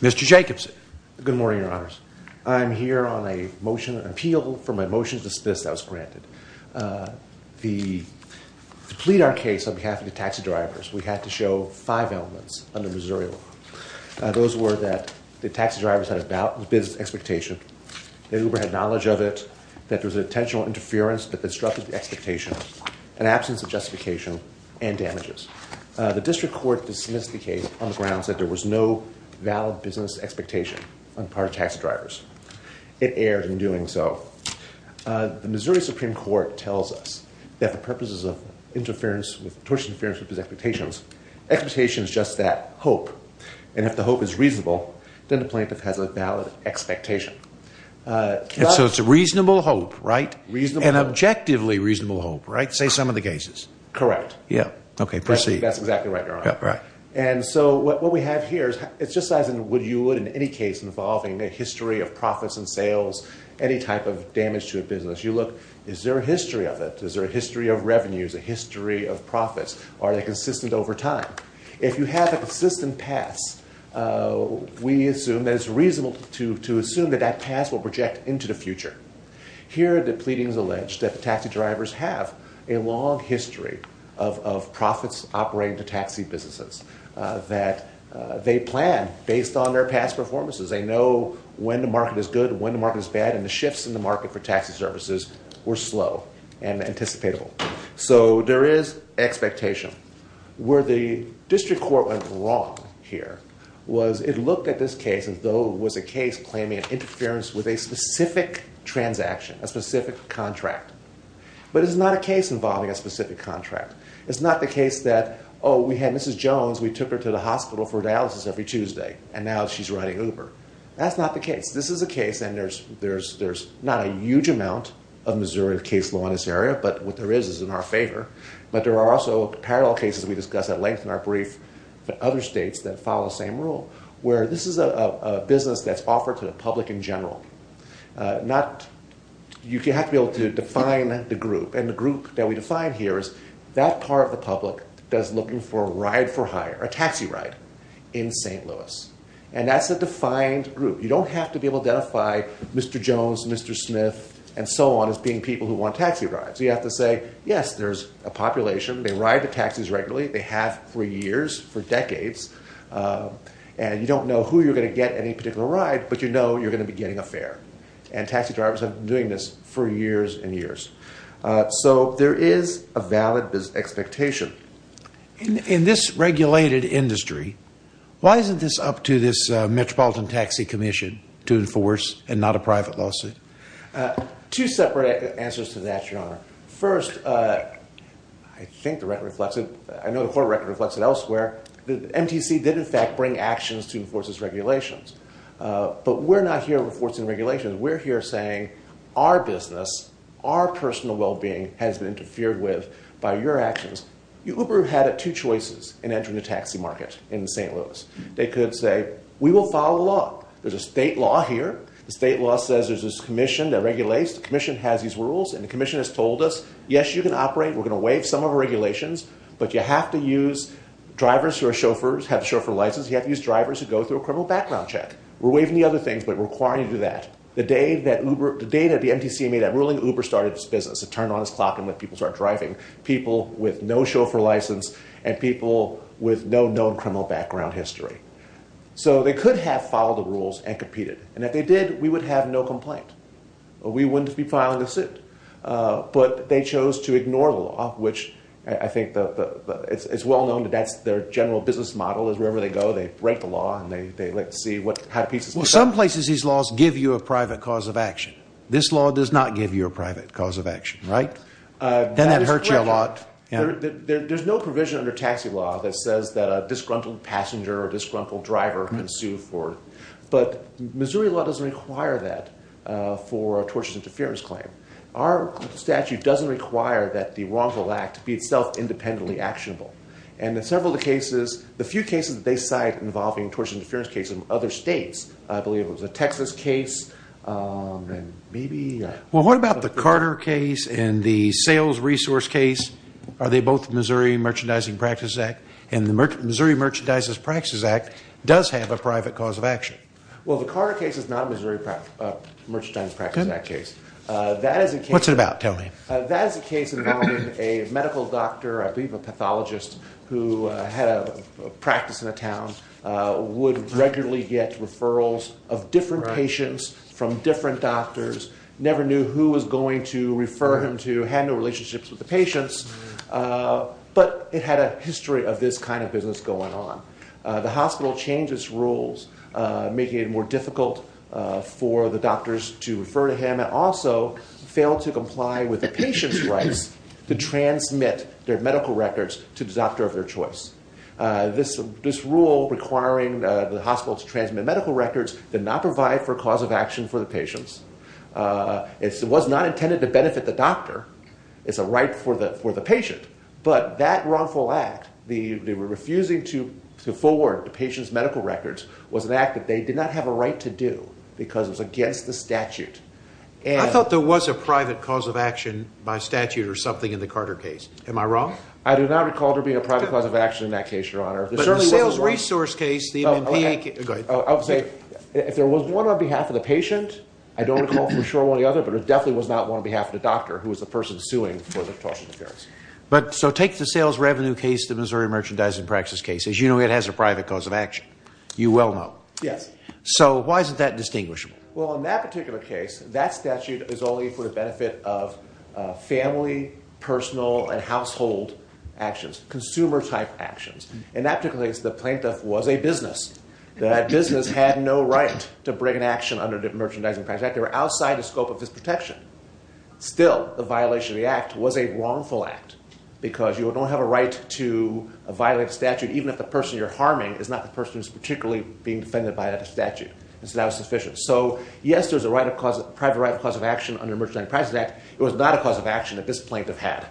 Mr. Jacobson. Good morning, Your Honors. I'm here on a motion, an appeal, for my motion to dismiss as granted. To plead our case on behalf of the taxi drivers, we had to show five elements under Missouri law. Those were that the taxi drivers had a business expectation, that Uber had knowledge of it, that there was an intentional interference that disrupted the expectation, an absence of justification, and damages. The district court dismissed the case on the grounds that there was no valid business expectation on the part of taxi drivers. It erred in doing so. The Missouri Supreme Court tells us that for purposes of interference with, tortuous interference with business expectations, expectation is just that, hope. And if the hope is reasonable, then the plaintiff has a valid expectation. And so it's a reasonable hope, right? And objectively reasonable hope, right? Say some of the cases. Correct. Okay, proceed. That's exactly right, Your Honor. And so what we have here is, it's just as you would in any case involving a history of profits and sales, any type of damage to a business. You look, is there a history of it? Is there a history of revenues, a history of profits? Are they consistent over time? If you have a consistent past, we assume that it's reasonable to assume that that past will project into the future. Here the pleadings allege that the taxi drivers have a long history of profits operating to taxi businesses, that they plan based on their past performances. They know when the market is good, when the market is bad, and the shifts in the market for taxi services were slow and anticipatable. So there is expectation. Where the district court went wrong here was it looked at this case as though it was a case claiming interference with a specific transaction, a specific contract. But it's not a case involving a specific contract. It's not the case that, oh, we had Mrs. Jones, we took her to the hospital for dialysis every Tuesday and now she's riding Uber. That's not the case. This is a case and there's not a huge amount of Missouri case law in this area, but what there is, is in our favor. But there are also parallel cases we discussed at length in our brief for other states that follow the same rule, where this is a business that's offered to the public in general. You have to be able to define the group, and the group that we define here is that part of the public that's looking for a ride for hire, a taxi ride, in St. Louis. And that's a defined group. You don't have to be able to identify Mr. Jones, Mr. Smith, and so on as being people who want taxi rides. You have to say, yes, there's a population. They ride to taxis regularly. They have for years, for decades. And you don't know who you're going to get any particular ride, but you know you're going to be getting a fare. And taxi drivers have been doing this for years and years. So there is a valid expectation. In this regulated industry, why isn't this up to this Metropolitan Taxi Commission to enforce and not a private lawsuit? Two separate answers to that, Your Honor. First, I think the record reflects it. I know the court record reflects it elsewhere. The MTC did, in fact, bring actions to enforce its regulations. But we're not here enforcing regulations. We're here saying, our business, our personal well-being has been interfered with by your actions. Uber had two choices in entering the taxi market in St. Louis. They could say, we will follow the law. There's a state law here. The state law says there's this commission that regulates. The commission has these rules. And the commission has told us, yes, you can operate. We're going to waive some of our regulations. But you have to use drivers who are chauffeurs, have a chauffeur license. You have to use drivers who go through a criminal background check. We're waiving the other things, but requiring you to do that. The day that the MTC made that ruling, Uber started its business. It turned on its clock and let people start driving. People with no chauffeur license and people with no known criminal background history. So they could have followed the rules and competed. And if they did, we would have no complaint. We wouldn't be filing a suit. But they chose to ignore the law, which I think it's well known that that's their general business model is wherever they go, they break the law and they like to see how pieces come together. Well, some places these laws give you a private cause of action. This law does not give you a private cause of action, right? Doesn't that hurt you a lot? There's no provision under taxi law that says that a disgruntled passenger or disgruntled driver can sue for it. But Missouri law doesn't require that for a tortious interference claim. Our statute doesn't require that the wrongful act be itself independently actionable. And in several of the cases, the few cases that they cite involving tortious interference cases in other states, I believe it was a Texas case and maybe... Well, what about the Carter case and the sales resource case? Are they both Missouri Merchandising Practices Act? And the Missouri Merchandising Practices Act does have a private cause of action. Well, the Carter case is not a Merchandising Practices Act case. That is a case... What's it about? Tell me. That is a case involving a medical doctor, I believe a pathologist, who had a practice in a town, would regularly get referrals of different patients from different doctors, never knew who was going to refer him to, had no relationships with the patients, but it had a history of this kind of business going on. The hospital changed its rules, making it more difficult for the doctors to refer to him, and also failed to comply with the patient's rights to transmit their medical records to the doctor of their choice. This rule requiring the hospital to transmit medical records did not provide for a cause of action for the patients. It was not intended to benefit the doctor. It's a right for the patient. But that wrongful act, the refusing to forward the patient's medical records, was an act that they did not have a right to do because it was against the statute. I thought there was a private cause of action by statute or something in the Carter case. Am I wrong? I do not recall there being a private cause of action in that case, Your Honor. But in the sales resource case, the MMP... Okay. Go ahead. I would say if there was one on behalf of the patient, I don't recall for sure one or the other, but it definitely was not one on behalf of the doctor who was the person suing for the tortious interference. So take the sales revenue case, the Missouri Merchandising Practices case. As you know, it has a private cause of action. You well know. Yes. So why is that distinguishable? Well, in that particular case, that statute is only for the benefit of family, personal, and household actions, consumer-type actions. In that particular case, the plaintiff was a business. That business had no right to bring an action under the Merchandising Practices Act. They were outside the scope of his protection. Still, the violation of the act was a wrongful act because you don't have a right to violate a statute even if the person you're harming is not the person who's particularly being defended by that statute. So that was sufficient. So yes, there's a private right of cause of action under the Merchandising Practices Act. It was not a cause of action that this plaintiff had.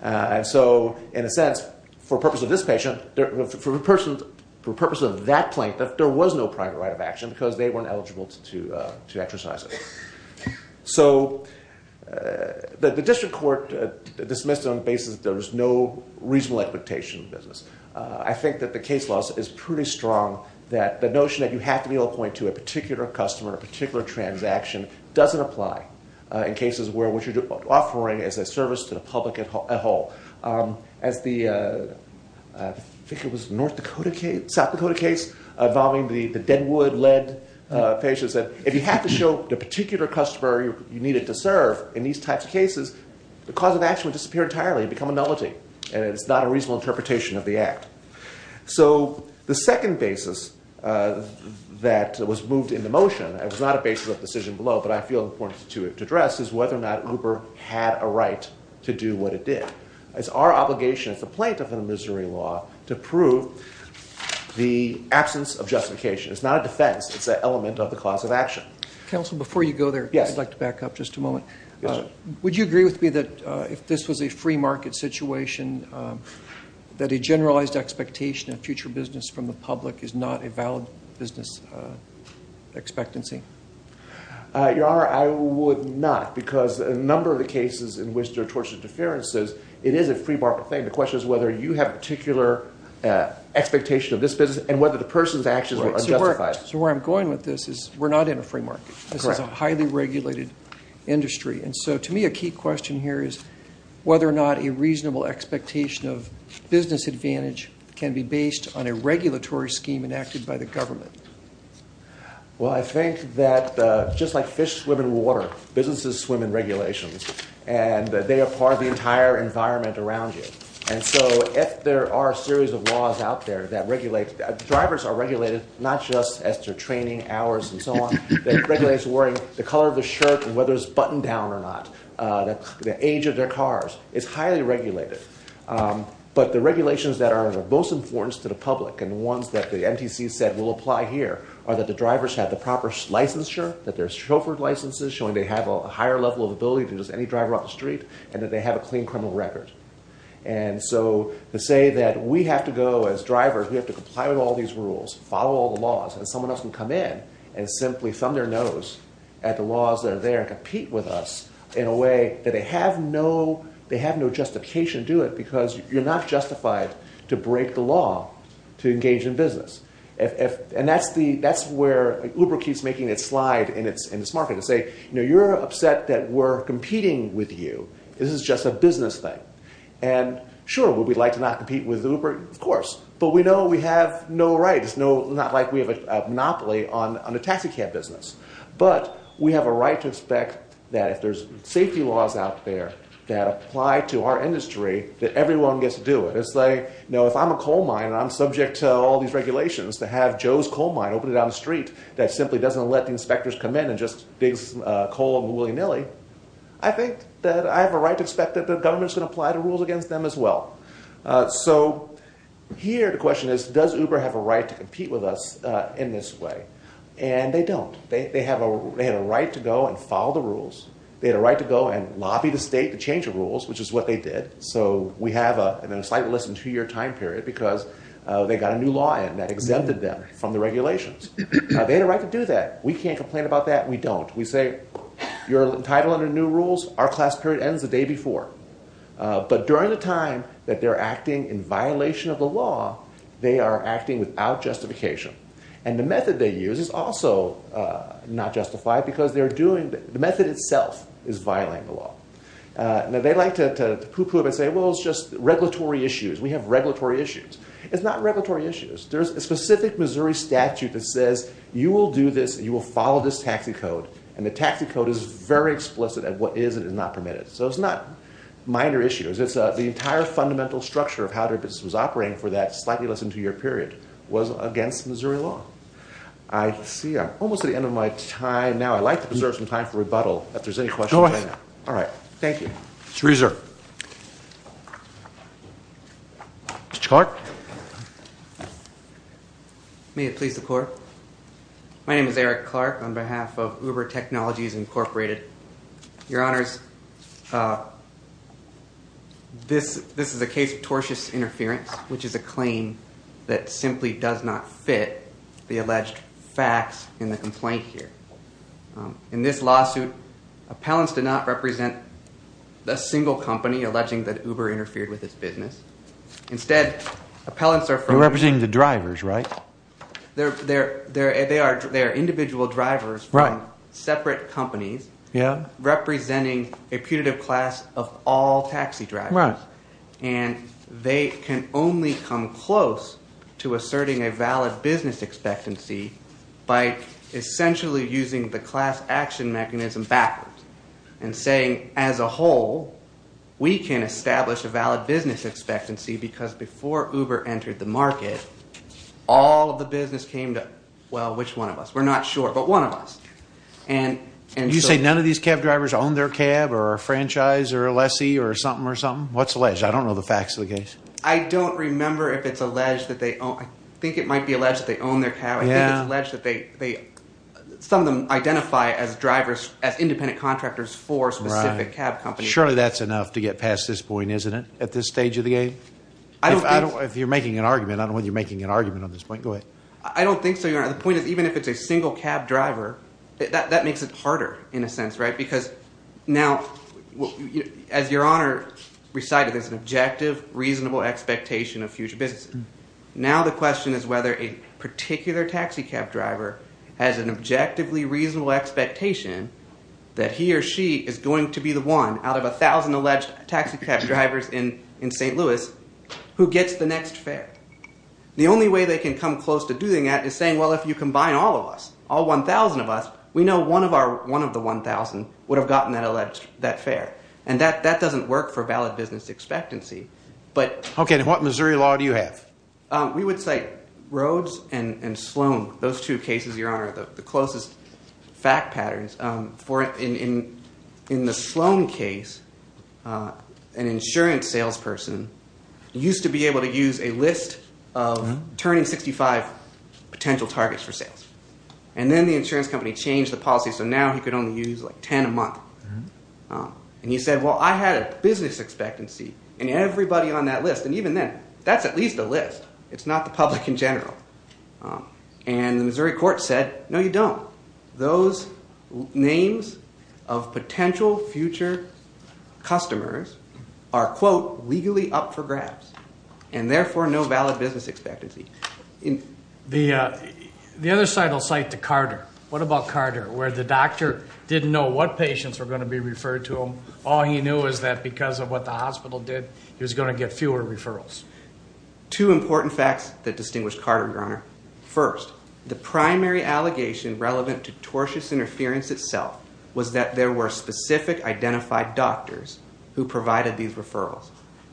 And so, in a sense, for the purpose of this patient, for the purpose of that plaintiff, there was no private right of action because they weren't eligible to exercise it. So the district court dismissed it on the basis that there was no reasonable expectation of business. I think that the case law is pretty strong that the notion that you have to be able to appoint to a particular customer, a particular transaction, doesn't apply in cases where what you're offering is a service to the public at all. As the, I think it was North Dakota case, South Dakota case involving the Deadwood-led patient said, if you have to show the particular customer you needed to serve in these types of cases, the cause of action would disappear entirely and become a nullity. And it's not a reasonable interpretation of the act. So the second basis that was moved into motion, it was not a basis of decision below, but I feel important to address, is whether or not Uber had a right to do what it did. It's our obligation as a plaintiff in the Missouri law to prove the absence of justification. It's not a defense, it's an element of the cause of action. Counsel, before you go there, I'd like to back up just a moment. Would you agree with me that if this was a free market situation, that a generalized expectation of future business from the public is not a valid business expectancy? Your Honor, I would not, because a number of the cases in which there are tortious interferences, it is a free market thing. The question is whether you have a particular expectation of this business and whether the person's actions are justified. So where I'm going with this is we're not in a free market. This is a highly regulated industry. And so to me, a key question here is whether or not a reasonable expectation of business advantage can be based on a regulatory scheme enacted by the government. Well, I think that just like fish swim in water, businesses swim in regulations, and they are part of the entire environment around you. And so if there are a series of laws out there that regulate, drivers are regulated not just as to training hours and so on, that color of the shirt and whether it's buttoned down or not, the age of their cars, it's highly regulated. But the regulations that are of the most importance to the public and ones that the MTC said will apply here are that the drivers have the proper licensure, that there's chauffeured licenses showing they have a higher level of ability than just any driver on the street, and that they have a clean criminal record. And so to say that we have to go as drivers, we have to comply with all these rules, follow the laws, and someone else can come in and simply thumb their nose at the laws that are there and compete with us in a way that they have no justification to do it because you're not justified to break the law to engage in business. And that's where Uber keeps making its slide in this market to say, you're upset that we're competing with you. This is just a business thing. And sure, would we like to not compete with Uber? Of course. But we have no rights. It's not like we have a monopoly on the taxicab business. But we have a right to expect that if there's safety laws out there that apply to our industry, that everyone gets to do it. It's like, if I'm a coal mine and I'm subject to all these regulations to have Joe's Coal Mine open down the street that simply doesn't let the inspectors come in and just dig some coal willy-nilly, I think that I have a right to expect that the government is going to apply the rules against them as well. So here the question is, does Uber have a right to compete with us in this way? And they don't. They had a right to go and follow the rules. They had a right to go and lobby the state to change the rules, which is what they did. So we have a slightly less than two-year time period because they got a new law in that exempted them from the regulations. Now, they had a right to do that. We can't complain about that. We don't. We say, you're entitled under new rules. Our class period ends the day before. But during the time that they're acting in violation of the law, they are acting without justification. And the method they use is also not justified because they're doing, the method itself is violating the law. Now, they like to pooh-pooh and say, well, it's just regulatory issues. We have regulatory issues. It's not regulatory issues. There's a specific Missouri statute that says you will do this, you will follow this taxi code. And the taxi code is very explicit at what is and is not permitted. So it's not minor issues. It's the entire fundamental structure of how their business was operating for that slightly less than two-year period was against Missouri law. I see I'm almost at the end of my time. Now, I'd like to preserve some time for rebuttal if there's any questions. Go ahead. All right. Thank you. It's reserved. Mr. Clark? May it please the Court? My name is Eric Clark on behalf of Uber Technologies Incorporated. Your Honors, this is a case of tortious interference, which is a claim that simply does not fit the alleged facts in the complaint here. In this lawsuit, appellants did not represent a single company alleging that Uber interfered with its business. Instead, appellants are from... You're representing the drivers, right? They are individual drivers from separate companies representing a putative class of all taxi drivers. And they can only come close to asserting a valid business expectancy by essentially using the class action mechanism backwards and saying, as a whole, we can establish a valid business expectancy because before Uber entered the market, all of the business came to, well, which one of us? We're not sure, but one of us. And you say none of these cab drivers own their cab or a franchise or a lessee or something or something? What's alleged? I don't know the facts of the case. I don't remember if it's alleged that they own... I think it might be alleged they own their cab. I think it's alleged that some of them identify as drivers, as independent contractors for specific cab companies. Surely that's enough to get past this point, isn't it, at this stage of the game? If you're making an argument, I don't know whether you're making an argument on this point. Go ahead. I don't think so, Your Honor. The point is, even if it's a single cab driver, that makes it harder in a sense, right? Because now, as Your Honor recited, there's an objective reasonable expectation that he or she is going to be the one out of 1,000 alleged taxi cab drivers in St. Louis who gets the next fare. The only way they can come close to doing that is saying, well, if you combine all of us, all 1,000 of us, we know one of the 1,000 would have gotten that fare. And that doesn't work for valid business expectancy. Okay. And what Missouri law do you have? We would cite Rhodes and Sloan. Those two cases, Your Honor, are the closest fact patterns. In the Sloan case, an insurance salesperson used to be able to use a list of turning 65 potential targets for sales. And then the insurance company changed the policy so now he could only use like 10 a month. And he said, well, I had a business expectancy and everybody on that list, and even then, that's at least a list. It's not the public in general. And the Missouri court said, no, you don't. Those names of potential future customers are, quote, legally up for grabs. And therefore, no valid business expectancy. The other side will cite to Carter. What about Carter? Where the doctor didn't know what patients were going to be referred to him. All he knew is that because of what the hospital did, he was going to get fewer referrals. Two important facts that distinguish Carter, Your Honor. First, the primary allegation relevant to tortious interference itself was that there were specific identified doctors who provided these referrals.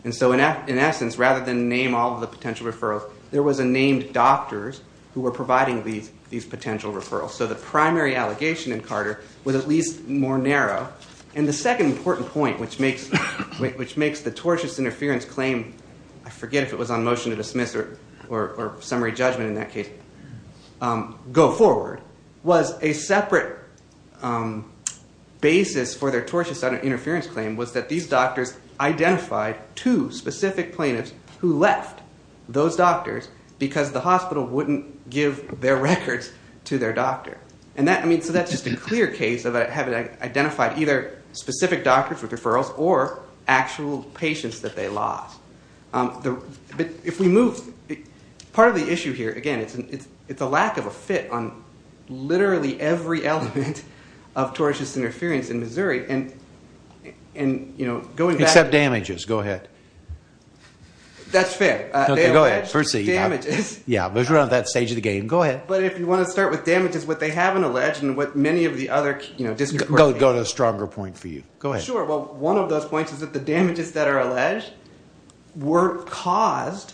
And so in essence, rather than name all of the potential referrals, there was a named doctors who were providing these potential referrals. So the primary allegation in Carter was at least more narrow. And the second important point, which makes the tortious interference claim, I forget if it was on motion to dismiss or summary judgment in that case, go forward, was a separate basis for their tortious interference claim was that these doctors identified two specific plaintiffs who left those doctors because the hospital wouldn't give their records to their doctor. And that, I mean, so that's just a clear case of having identified either specific doctors with referrals or actual patients that they lost. If we move, part of the issue here, again, it's a lack of a fit on literally every element of tortious interference in Missouri. And, you know, going back to the... Except damages. Go ahead. That's fair. Okay, go ahead. Proceed. Damages. Yeah, because we're at that stage of the game. Go ahead. But if you want to start with damages, what they haven't alleged and what many of the other, you know, district court... Go to a stronger point for you. Go ahead. Sure. Well, one of those points is that the damages that are alleged were caused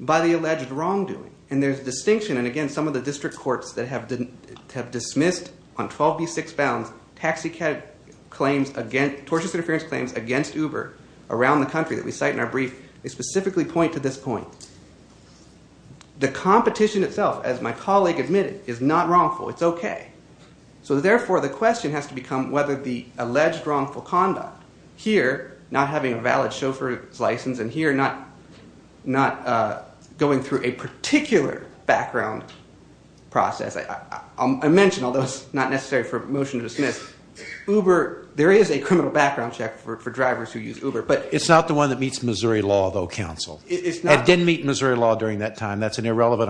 by the alleged wrongdoing. And there's distinction. And again, some of the district courts that have dismissed on 12B6 Bounds taxicab claims against, tortious interference claims against Uber around the country that we cite in our brief, they specifically point to this point. The competition itself, as my colleague admitted, is not wrongful. It's okay. So therefore, the question has to become whether the alleged wrongful conduct here, not having a valid chauffeur's license, and here not going through a particular background process. I mentioned, although it's not necessary for a motion to dismiss, Uber, there is a criminal background check for drivers who use Uber, but... That's an irrelevant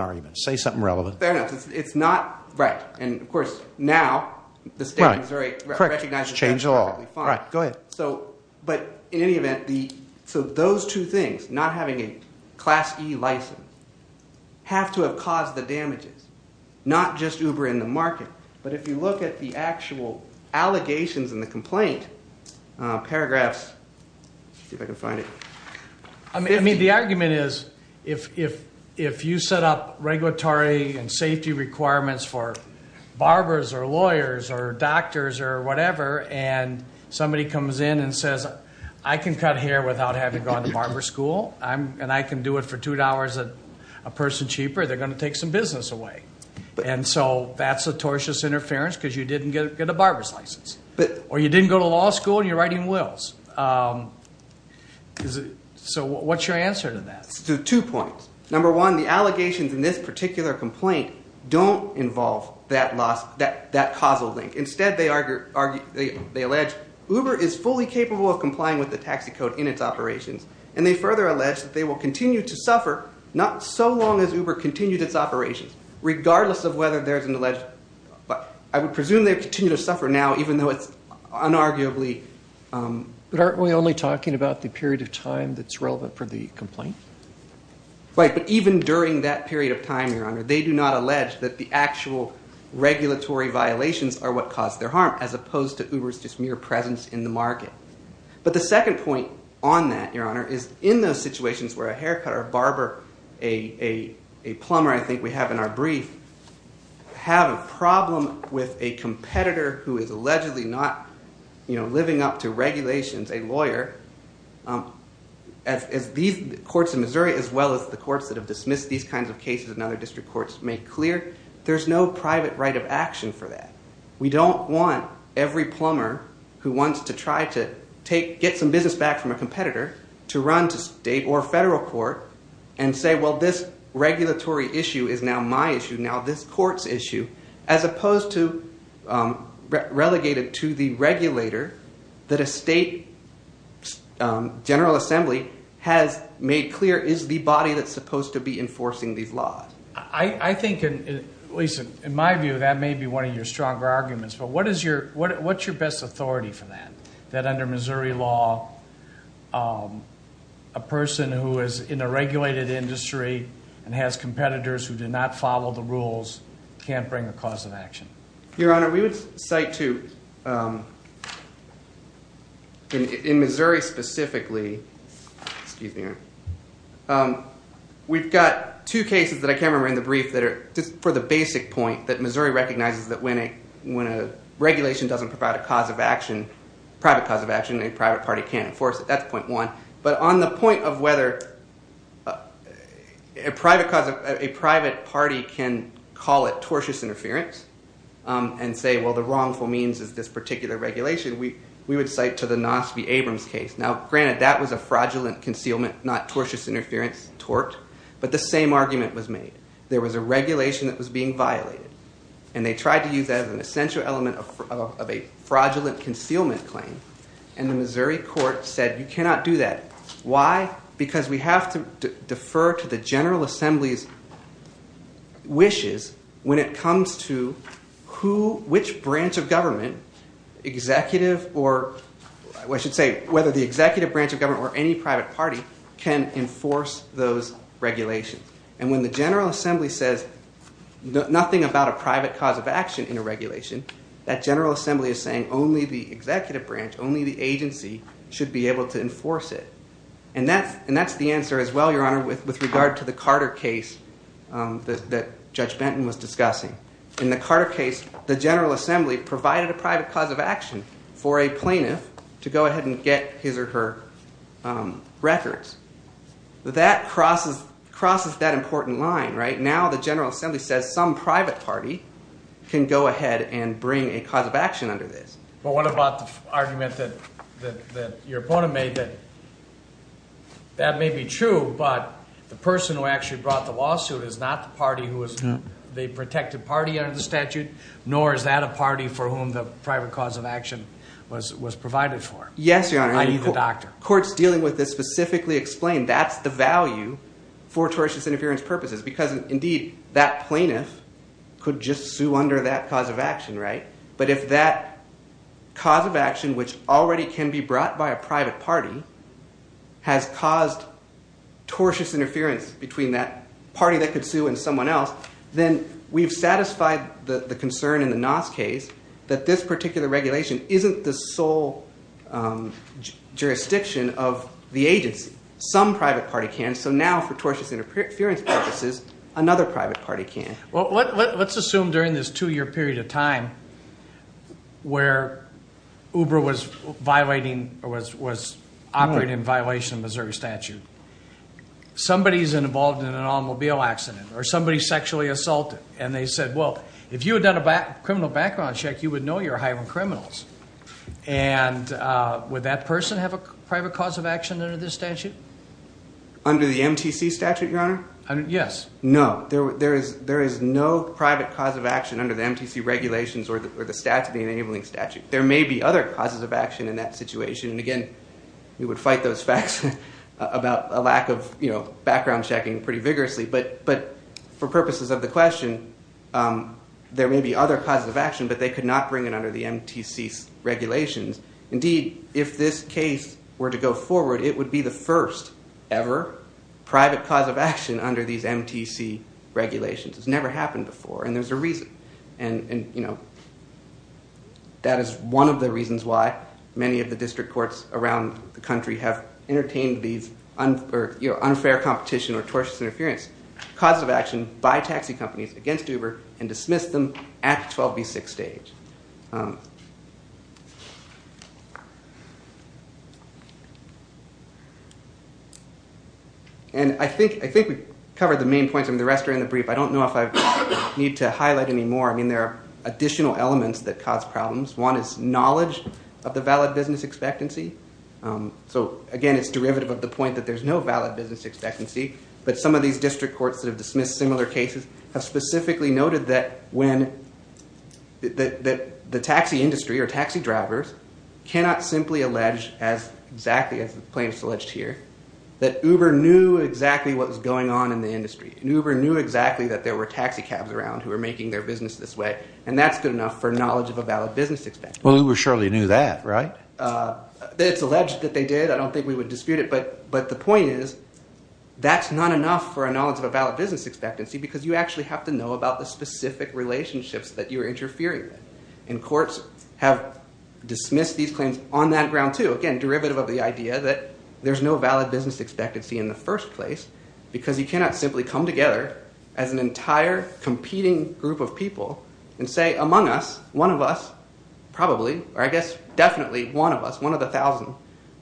argument. Say something relevant. Fair enough. It's not... Right. And of course, now the state of Missouri recognizes that's perfectly fine. Right. Correct. Just change the law. Right. Go ahead. So, but in any event, the... So those two things, not having a Class E license, have to have caused the damages, not just Uber in the market. But if you look at the actual allegations in the complaint, paragraphs... Let's see if I can find it. I mean, the argument is if you set up regulatory and safety requirements for barbers or lawyers or doctors or whatever, and somebody comes in and says, I can cut hair without having gone to barber school, and I can do it for $2 a person cheaper, they're going to take some business away. And so that's a tortious interference because you didn't get a barber's So what's your answer to that? To two points. Number one, the allegations in this particular complaint don't involve that causal link. Instead, they allege Uber is fully capable of complying with the taxi code in its operations. And they further allege that they will continue to suffer not so long as Uber continues its operations, regardless of whether there's an alleged... I would presume they continue to suffer now, even though it's unarguably... But aren't we only talking about the period of time that's relevant for the complaint? Right. But even during that period of time, Your Honor, they do not allege that the actual regulatory violations are what caused their harm, as opposed to Uber's just mere presence in the market. But the second point on that, Your Honor, is in those situations where a competitor who is allegedly not living up to regulations, a lawyer, as these courts in Missouri, as well as the courts that have dismissed these kinds of cases in other district courts, make clear, there's no private right of action for that. We don't want every plumber who wants to try to get some business back from a competitor to run to state or federal court and say, well, this regulatory issue is now my issue, now this court's issue, as opposed to relegate it to the regulator that a state general assembly has made clear is the body that's supposed to be enforcing these laws. I think, at least in my view, that may be one of your stronger arguments. But what's your best authority for that? That under Missouri law, a person who is in a regulated industry and has competitors who do not follow the rules can't bring a cause of action? Your Honor, we would cite to, in Missouri specifically, we've got two cases that I can't remember in the brief that are just for the basic point that Missouri recognizes that when a regulation doesn't provide a cause of action, private cause of action, a private So to the point of whether a private party can call it tortious interference and say, well, the wrongful means is this particular regulation, we would cite to the Nosby-Abrams case. Now, granted, that was a fraudulent concealment, not tortuous interference, tort, but the same argument was made. There was a regulation that was being violated, and they tried to use that as an essential element of a fraudulent concealment claim, and the Why? Because we have to defer to the General Assembly's wishes when it comes to which branch of government, executive or, I should say, whether the executive branch of government or any private party can enforce those regulations. And when the General Assembly says nothing about a private cause of action in a regulation, that General Assembly is saying only the And that's the answer as well, Your Honor, with regard to the Carter case that Judge Benton was discussing. In the Carter case, the General Assembly provided a private cause of action for a plaintiff to go ahead and get his or her records. That crosses that important line, right? Now the General Assembly says some private party can go ahead and bring a cause of action under this. But what about the argument that your opponent made that that may be true, but the person who actually brought the lawsuit is not the party who is the protected party under the statute, nor is that a party for whom the private cause of action was provided for? Yes, Your Honor. I need the doctor. Courts dealing with this specifically explain that's the value for tortious interference purposes, because indeed, that plaintiff could just sue under that cause of action, right? But if that cause of action, which already can be brought by a private party, has caused tortious interference between that party that could sue and someone else, then we've satisfied the concern in the NOS case that this particular regulation isn't the sole jurisdiction of the agency. Some private party can, so now for tortious interference purposes, another private party can. Well, let's assume during this two-year period of time where Uber was operating in violation of Missouri statute, somebody's involved in an automobile accident or somebody sexually assaulted, and they said, well, if you had done a criminal background check, you would know you're hiring criminals. And would that person have a private cause of action under this statute? Under the MTC statute, Your Honor? Yes. No. There is no private cause of action under the MTC regulations or the statute, the enabling statute. There may be other causes of action in that situation. And again, we would fight those facts about a lack of background checking pretty vigorously. But for purposes of the question, there may be other causes of action, but they could not bring it under the MTC regulations. Indeed, if this case were to go forward, it would be the first ever private cause of action under these MTC regulations. It's never happened before, and there's a reason. And that is one of the reasons why many of the district courts around the country have entertained these unfair competition or tortious interference causes of action by taxi companies against Uber and dismissed them at the 12B6 stage. And I think we covered the main points. I mean, the rest are in the brief. I don't know if I need to highlight any more. I mean, there are additional elements that cause problems. One is knowledge of the valid business expectancy. So again, it's derivative of the point that there's no valid business expectancy. But some of these that the taxi industry or taxi drivers cannot simply allege, as exactly as the plaintiffs alleged here, that Uber knew exactly what was going on in the industry. And Uber knew exactly that there were taxi cabs around who were making their business this way. And that's good enough for knowledge of a valid business expectancy. Well, Uber surely knew that, right? It's alleged that they did. I don't think we would dispute it. But the point is, that's not enough for a knowledge of a valid business expectancy because you actually have to interfere with it. And courts have dismissed these claims on that ground, too. Again, derivative of the idea that there's no valid business expectancy in the first place because you cannot simply come together as an entire competing group of people and say, among us, one of us probably, or I guess definitely one of us, one of the thousand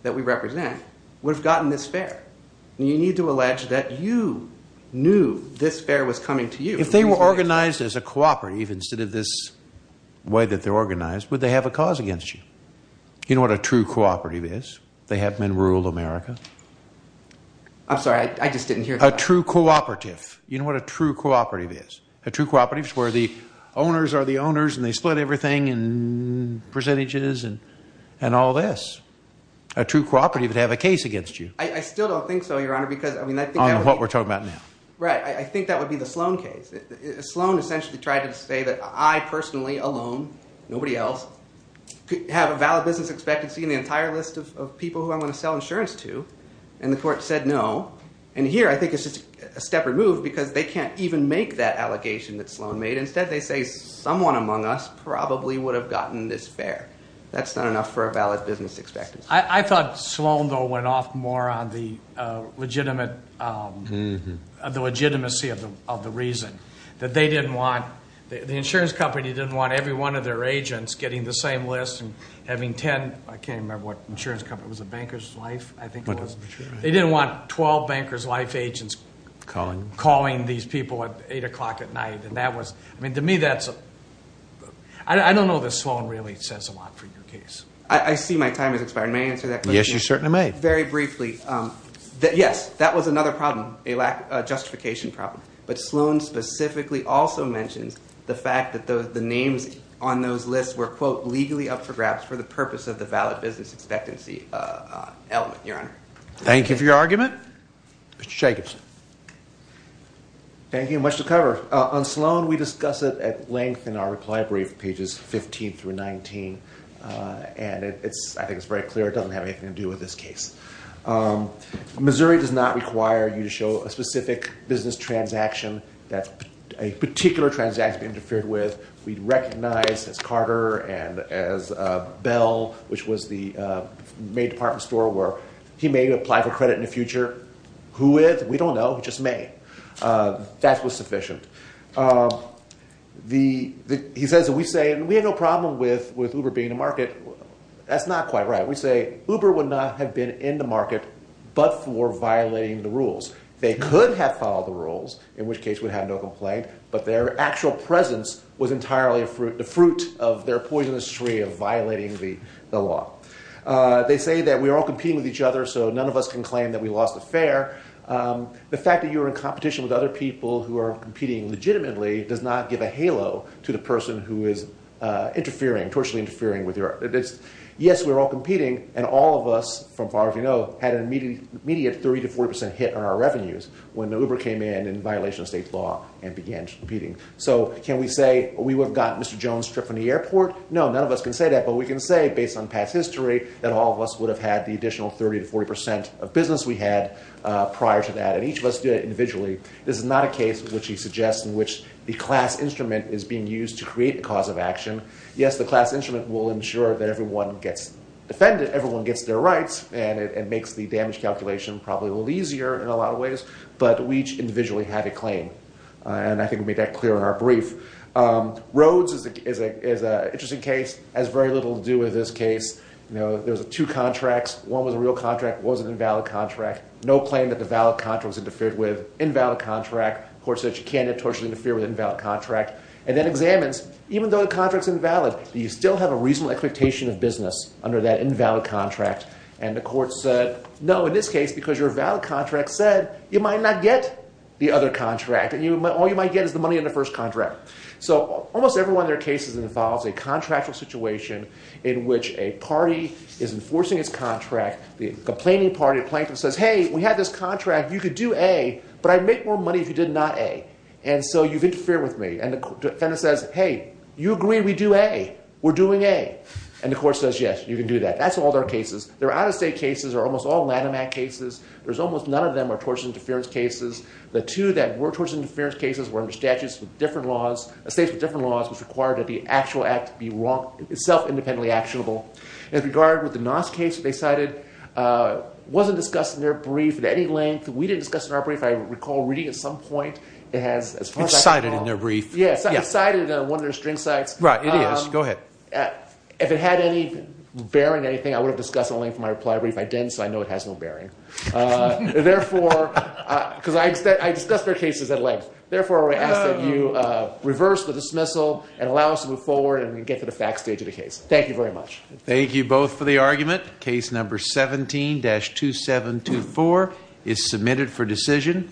that we represent, would have gotten this fare. You need to allege that you knew this fare was coming to you. If they were organized as a cooperative instead of this way that they're organized, would they have a cause against you? You know what a true cooperative is? They have them in rural America. I'm sorry. I just didn't hear that. A true cooperative. You know what a true cooperative is? A true cooperative is where the owners are the owners and they split everything in percentages and all this. A true cooperative would have a case against you. I still don't think so, Your Honor, because I mean, I think that would be... On what we're talking about now. Right. I think that would be the Sloan case. Sloan essentially tried to say that I personally alone, nobody else, could have a valid business expectancy in the entire list of people who I'm going to sell insurance to, and the court said no. And here I think it's just a step removed because they can't even make that allegation that Sloan made. Instead they say someone among us probably would have gotten this fare. That's not enough for a valid business expectancy. I thought Sloan, though, went off more on the legitimacy of the reason. That they didn't want, the insurance company didn't want every one of their agents getting the same list and having 10, I can't remember what insurance company, it was a Banker's Life, I think it was. They didn't want 12 Banker's Life agents calling these people at 8 o'clock at night. And that was, I mean, to me that's, I don't know that Sloan really says a lot for your case. I see my time has expired. May I answer that question? Yes, you certainly may. Very briefly, yes, that was another problem, a justification problem, but Sloan specifically also mentions the fact that the names on those lists were, quote, legally up for grabs for the purpose of the valid business expectancy element, Your Honor. Thank you for your argument. Mr. Jacobson. Thank you, much to cover. On Sloan we discuss it at length in our and I think it's very clear it doesn't have anything to do with this case. Missouri does not require you to show a specific business transaction that a particular transaction interfered with. We recognize as Carter and as Bell, which was the May department store where he may apply for credit in the future. Who with? We don't know, he just may. That was sufficient. He says that we say we have no problem with Uber being in the market. That's not quite right. We say Uber would not have been in the market, but for violating the rules. They could have followed the rules, in which case we'd have no complaint, but their actual presence was entirely the fruit of their poisonous tree of violating the law. They say that we are all competing with each other, so none of us can claim that we lost the fair. The fact that you are in competition with other people who are competing legitimately does not give a halo to the person who is tortuously interfering. Yes, we're all competing, and all of us, from far as we know, had an immediate 30-40% hit on our revenues when Uber came in in violation of state law and began competing. So can we say we would have gotten Mr. Jones' trip from the airport? No, none of us can say that, but we can say based on past history that all of us would have had the additional 30-40% of business we had prior to that, and each of us did it individually. This is not a case, which he suggests, in which the class instrument is being used to create a cause of action. Yes, the class instrument will ensure that everyone gets defended, everyone gets their rights, and it makes the damage calculation probably a little easier in a lot of ways, but we each individually have a claim, and I think we made that clear in our brief. Rhodes is an interesting case. It has very little to do with this case. There's two contracts. One was a real contract, one was an invalid contract. No claim that the valid contract was interfered with. Invalid contract, the court said you can't notoriously interfere with an invalid contract, and then examines, even though the contract's invalid, do you still have a reasonable expectation of business under that invalid contract? And the court said, no, in this case, because your valid contract said you might not get the other contract, and all you might get is the money in the first contract. So almost every one of their cases involves a contractual situation in which a party is enforcing its contract. The complaining party or plaintiff says, hey, we had this contract. You could do A, but I'd make more money if you did not A, and so you've interfered with me. And the defendant says, hey, you agree we do A. We're doing A. And the court says, yes, you can do that. That's all their cases. Their out-of-state cases are almost all Lanham Act cases. There's almost none of them are tortious interference cases. The two that were tortious interference cases were under statutes with different laws, states with different laws, which required that the actual act be wrong, itself independently actionable. In regard with the Noss case they cited, it wasn't discussed in their brief at any length. We didn't discuss it in our brief. I recall reading at some point it has, as far as I can recall. It's cited in their brief. Yes, it's cited in one of their string cites. Right, it is. Go ahead. If it had any bearing, anything, I would have discussed it only in my reply brief. I didn't, so I know it has no bearing. Therefore, because I discussed their cases at length. Therefore, I ask that you reverse the dismissal and allow us to move forward and get to the fact stage of the case. Thank you very much. Thank you both for the argument. Case number 17-2724 is submitted for decision.